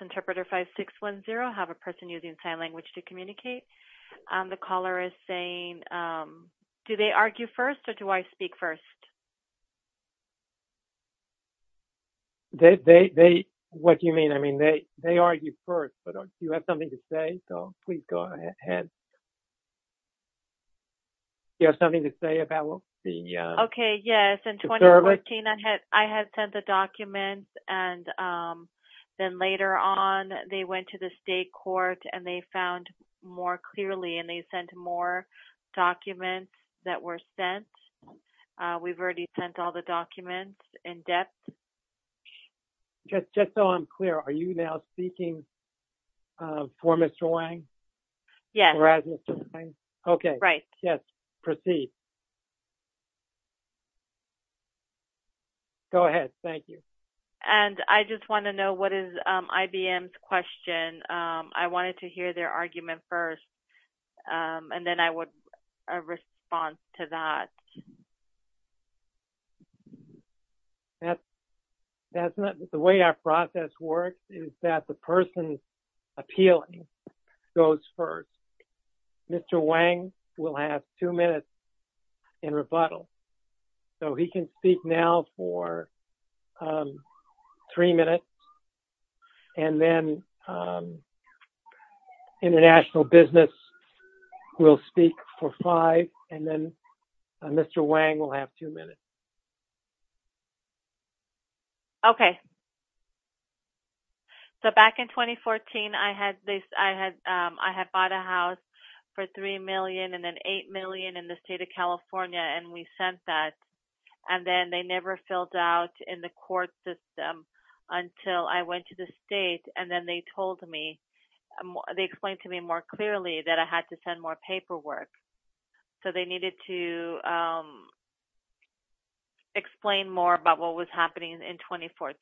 Interpreter 5610, have a person using sign language to communicate. The caller is saying, do they argue first or do I speak first? They, what do you mean? I mean, they argue first, but do you have something to say? So, please go ahead. Do you have something to say about being young? Okay, yes. In 2014, I had sent the documents and then later on, they went to the state court and they found more clearly and they sent more documents that were sent. We've already sent all the documents in depth. Just so I'm clear, are you now speaking for Mr. Wang? Yes. Okay. Right. Yes. Proceed. Go ahead. Thank you. And I just want to know what is IBM's question. I wanted to hear their argument first and then I would, a response to that. The way our process works is that the person appealing goes first. Mr. Wang will have two minutes in rebuttal. So, he can speak now for three minutes and then international business will speak for five and then Mr. Wang will have two minutes. Okay. So, back in 2014, I had bought a house for $3 million and then $8 million in the state of California and we sent that. And then they never filled out in the court system until I went to the state and then they told me, they explained to me more clearly that I had to send more paperwork. So, they needed to explain more about what was happening in 2014.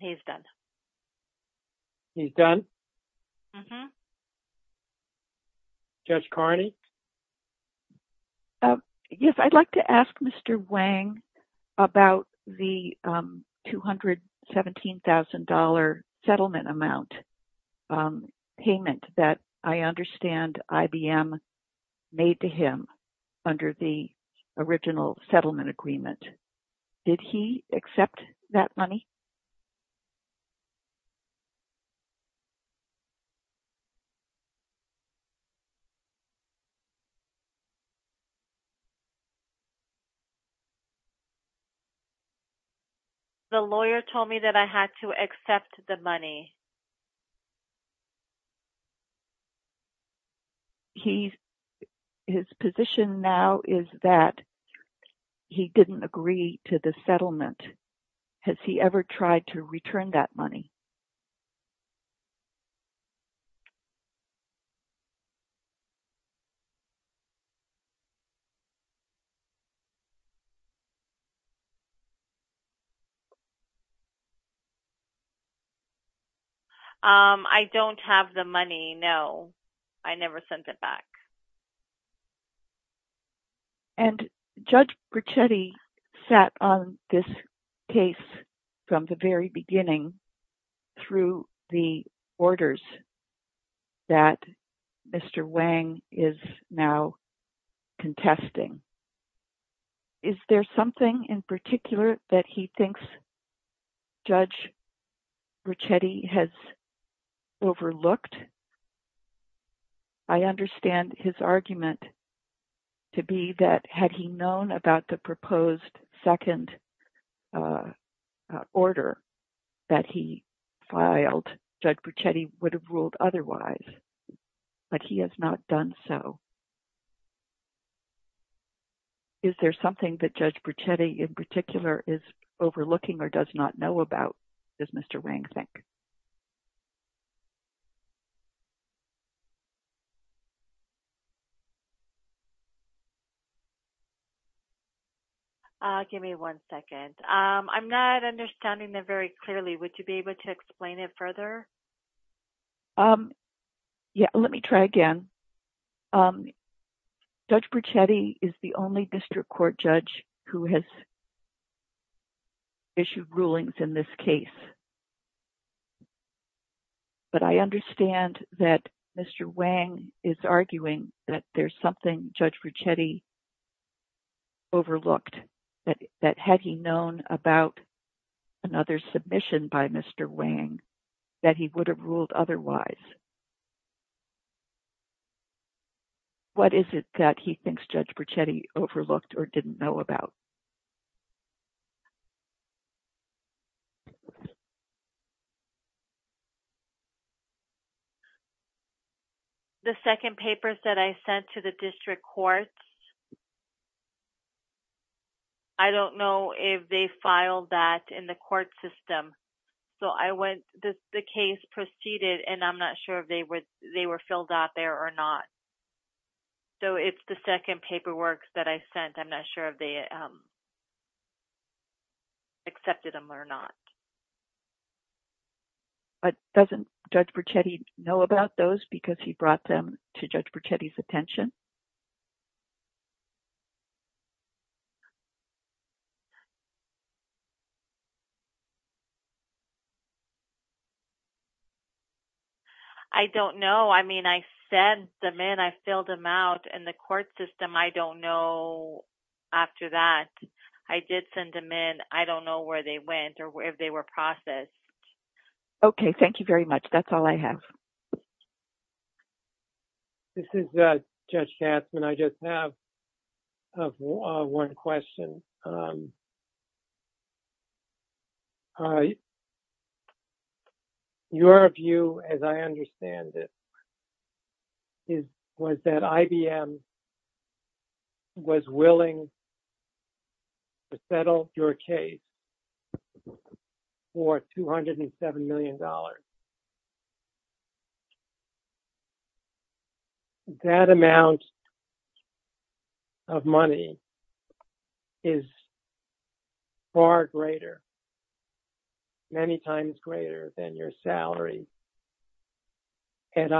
He's done. He's done? Uh-huh. Judge Carney? Yes, I'd like to ask Mr. Wang about the $217,000 settlement amount payment that I understand IBM made to him under the original settlement agreement. Did he accept that money? The lawyer told me that I had to accept the money. His position now is that he didn't agree to the settlement. Has he ever tried to return that money? I don't have the money, no. I never sent it back. And Judge Ricchetti sat on this case from the very beginning through the orders that Mr. Wang is now contesting. Is there something in particular that he thinks Judge Ricchetti has overlooked? I understand his argument to be that had he known about the proposed second order that he filed, Judge Ricchetti would have ruled otherwise. But he has not done so. Is there something that Judge Ricchetti in particular is overlooking or does not know about, does Mr. Wang think? Give me one second. I'm not understanding that very clearly. Would you be able to explain it further? Let me try again. Judge Ricchetti is the only district court judge who has issued rulings in this case. But I understand that Mr. Wang is arguing that there's something Judge Ricchetti overlooked, that had he known about another submission by Mr. Wang, that he would have ruled otherwise. What is it that he thinks Judge Ricchetti overlooked or didn't know about? The second papers that I sent to the district courts, I don't know if they filed that in the court system. The case proceeded and I'm not sure if they were filled out there or not. So it's the second paperwork that I sent, I'm not sure if they accepted them or not. But doesn't Judge Ricchetti know about those because he brought them to Judge Ricchetti's attention? I don't know. I mean, I sent them in, I filled them out in the court system. I don't know after that. I did send them in. I don't know where they went or if they were processed. Okay, thank you very much. That's all I have. This is Judge Gatzman. I just have one question. Your view, as I understand it, was that IBM was willing to settle your case for $207 million. That amount of money is far greater, many times greater than your salary at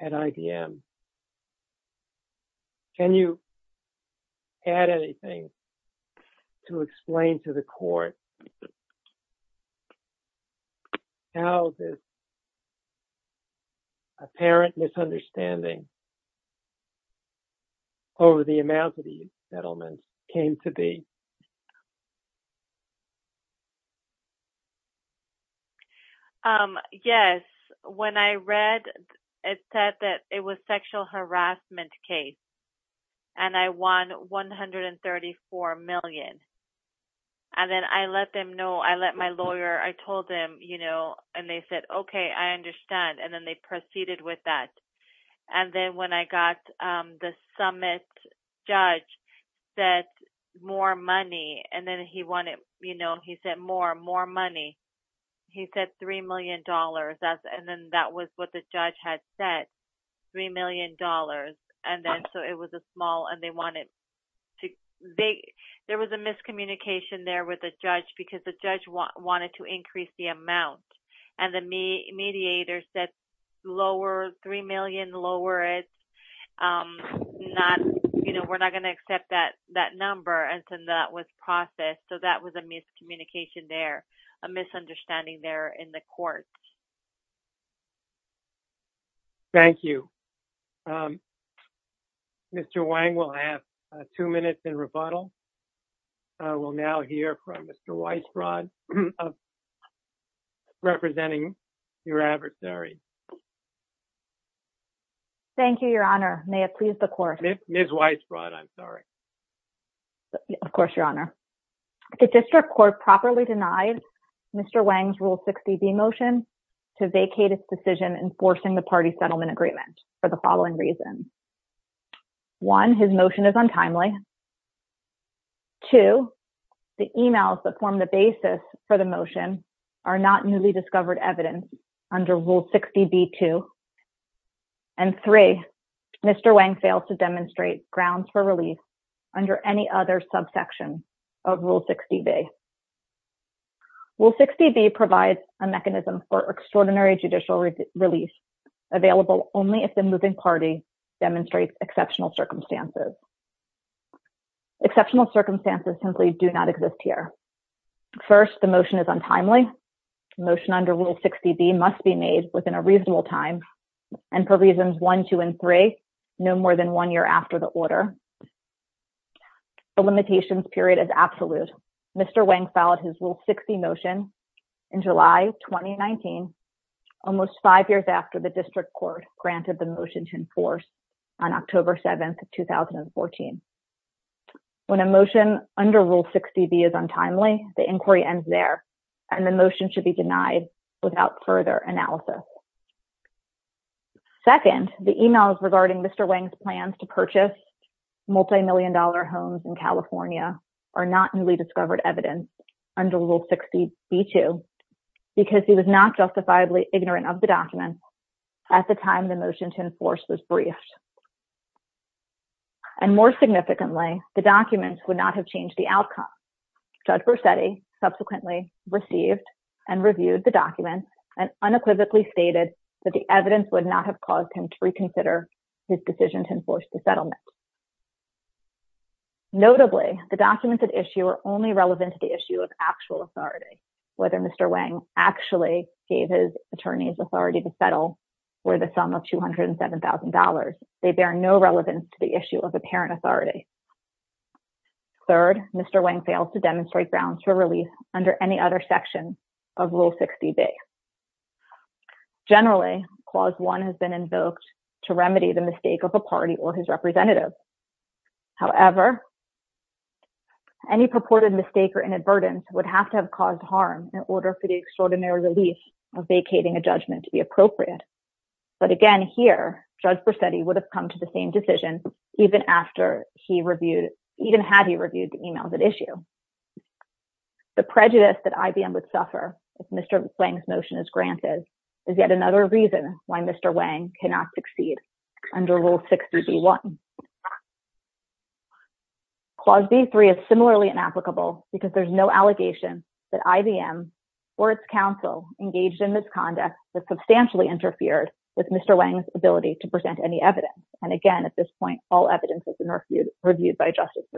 IBM. Can you add anything to explain to the court? How this apparent misunderstanding over the amount of the settlement came to be? Yes, when I read, it said that it was a sexual harassment case and I won $134 million. And then I let them know, I let my lawyer, I told them, you know, and they said, okay, I understand. And then they proceeded with that. And then when I got the summit judge that more money, and then he wanted, you know, he said more, more money. He said $3 million. And then that was what the judge had said, $3 million. And then so it was a small and they wanted to, there was a miscommunication there with the judge because the judge wanted to increase the amount. Thank you. Mr. Wang will have two minutes in rebuttal. I will now hear from Mr. Weisbrot representing your adversary. Thank you, Your Honor. May it please the court. Ms. Weisbrot, I'm sorry. Of course, Your Honor. The district court properly denied Mr. Wang's Rule 60B motion to vacate its decision enforcing the party settlement agreement for the following reasons. One, his motion is untimely. Two, the emails that form the basis for the motion are not newly discovered evidence under Rule 60B-2. And three, Mr. Wang failed to demonstrate grounds for release under any other subsection of Rule 60B. Rule 60B provides a mechanism for extraordinary judicial release available only if the moving party demonstrates exceptional circumstances. Exceptional circumstances simply do not exist here. First, the motion is untimely. Motion under Rule 60B must be made within a reasonable time and for reasons 1, 2, and 3, no more than one year after the order. The limitations period is absolute. Mr. Wang filed his Rule 60 motion in July 2019, almost five years after the district court granted the motion to enforce on October 7, 2014. When a motion under Rule 60B is untimely, the inquiry ends there and the motion should be denied without further analysis. Second, the emails regarding Mr. Wang's plans to purchase multimillion-dollar homes in California are not newly discovered evidence under Rule 60B-2 because he was not justifiably ignorant of the documents at the time the motion to enforce was briefed. And more significantly, the documents would not have changed the outcome. Judge Versetti subsequently received and reviewed the documents and unequivocally stated that the evidence would not have caused him to reconsider his decision to enforce the settlement. Notably, the documents at issue are only relevant to the issue of actual authority, whether Mr. Wang actually gave his attorney's authority to settle for the sum of $207,000. They bear no relevance to the issue of apparent authority. Third, Mr. Wang failed to demonstrate grounds for release under any other section of Rule 60B. Generally, Clause 1 has been invoked to remedy the mistake of a party or his representative. However, any purported mistake or inadvertence would have to have caused harm in order for the extraordinary relief of vacating a judgment to be appropriate. But again, here, Judge Versetti would have come to the same decision even after he reviewed, even had he reviewed the emails at issue. The prejudice that IBM would suffer if Mr. Wang's motion is granted is yet another reason why Mr. Wang cannot succeed under Rule 60B-1. Clause B-3 is similarly inapplicable because there's no allegation that IBM or its counsel engaged in misconduct that substantially interfered with Mr. Wang's ability to present any evidence. And again, at this point, all evidence has been reviewed by Judge Versetti.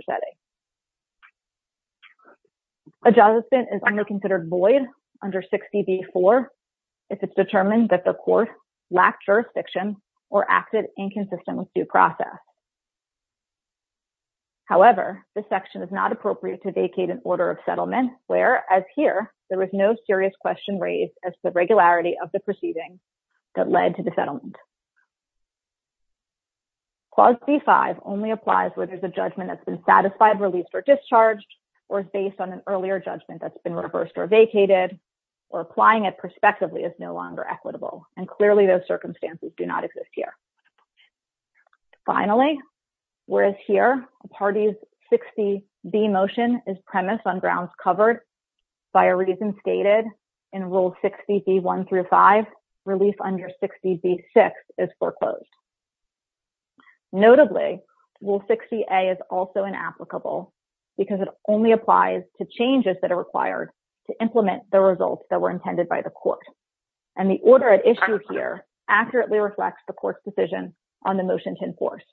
A judgment is only considered void under 60B-4 if it's determined that the court lacked jurisdiction or acted inconsistent with due process. However, this section is not appropriate to vacate an order of settlement where, as here, there is no serious question raised as to the regularity of the proceedings that led to the settlement. Clause B-5 only applies where there's a judgment that's been satisfied, released, or discharged, or is based on an earlier judgment that's been reversed or vacated, or applying it prospectively is no longer equitable. And clearly, those circumstances do not exist here. Finally, whereas here a party's 60B motion is premise on grounds covered by a reason stated in Rule 60B-1 through 5, release under 60B-6 is foreclosed. Notably, Rule 60A is also inapplicable because it only applies to changes that are required to implement the results that were intended by the court. And the order at issue here accurately reflects the court's decision on the motion to enforce.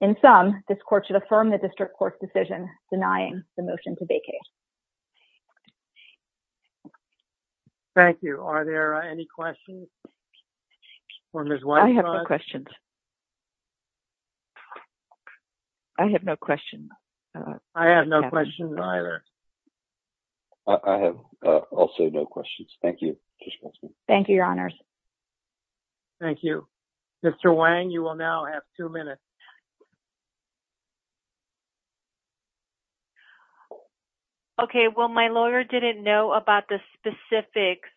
In sum, this court should affirm the district court's decision denying the motion to vacate. Thank you. Are there any questions for Ms. Weintraub? I have no questions. I have no questions. I have no questions either. I have also no questions. Thank you. Thank you, Your Honors. Thank you. Mr. Wang, you will now have two minutes. Okay. Well, my lawyer didn't know about the specifics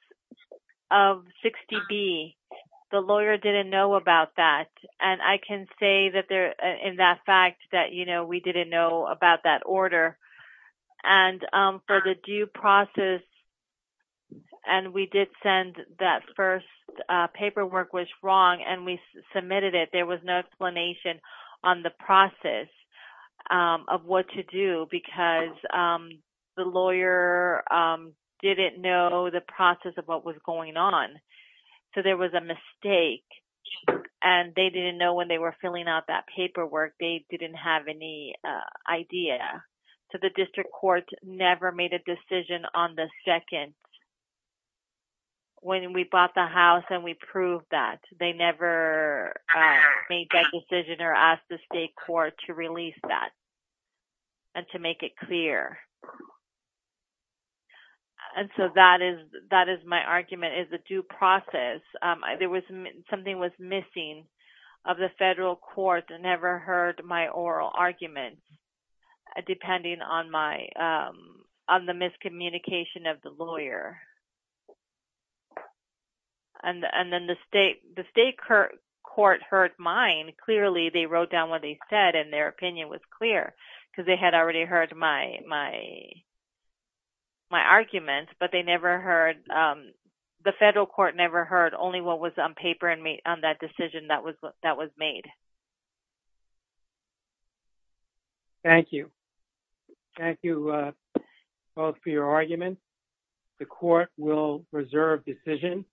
of 60B. The lawyer didn't know about that. And I can say in that fact that, you know, we didn't know about that order. And for the due process, and we did send that first paperwork was wrong, and we submitted it. There was no explanation on the process of what to do because the lawyer didn't know the process of what was going on. So there was a mistake, and they didn't know when they were filling out that paperwork. They didn't have any idea. So the district court never made a decision on the second when we bought the house and we proved that. They never made that decision or asked the state court to release that and to make it clear. And so that is my argument is the due process. There was something was missing of the federal court that never heard my oral argument, depending on the miscommunication of the lawyer. And then the state court heard mine. Clearly, they wrote down what they said, and their opinion was clear because they had already heard my argument, but they never heard, the federal court never heard only what was on paper on that decision that was made. Thank you. Thank you both for your argument. The court will reserve decision.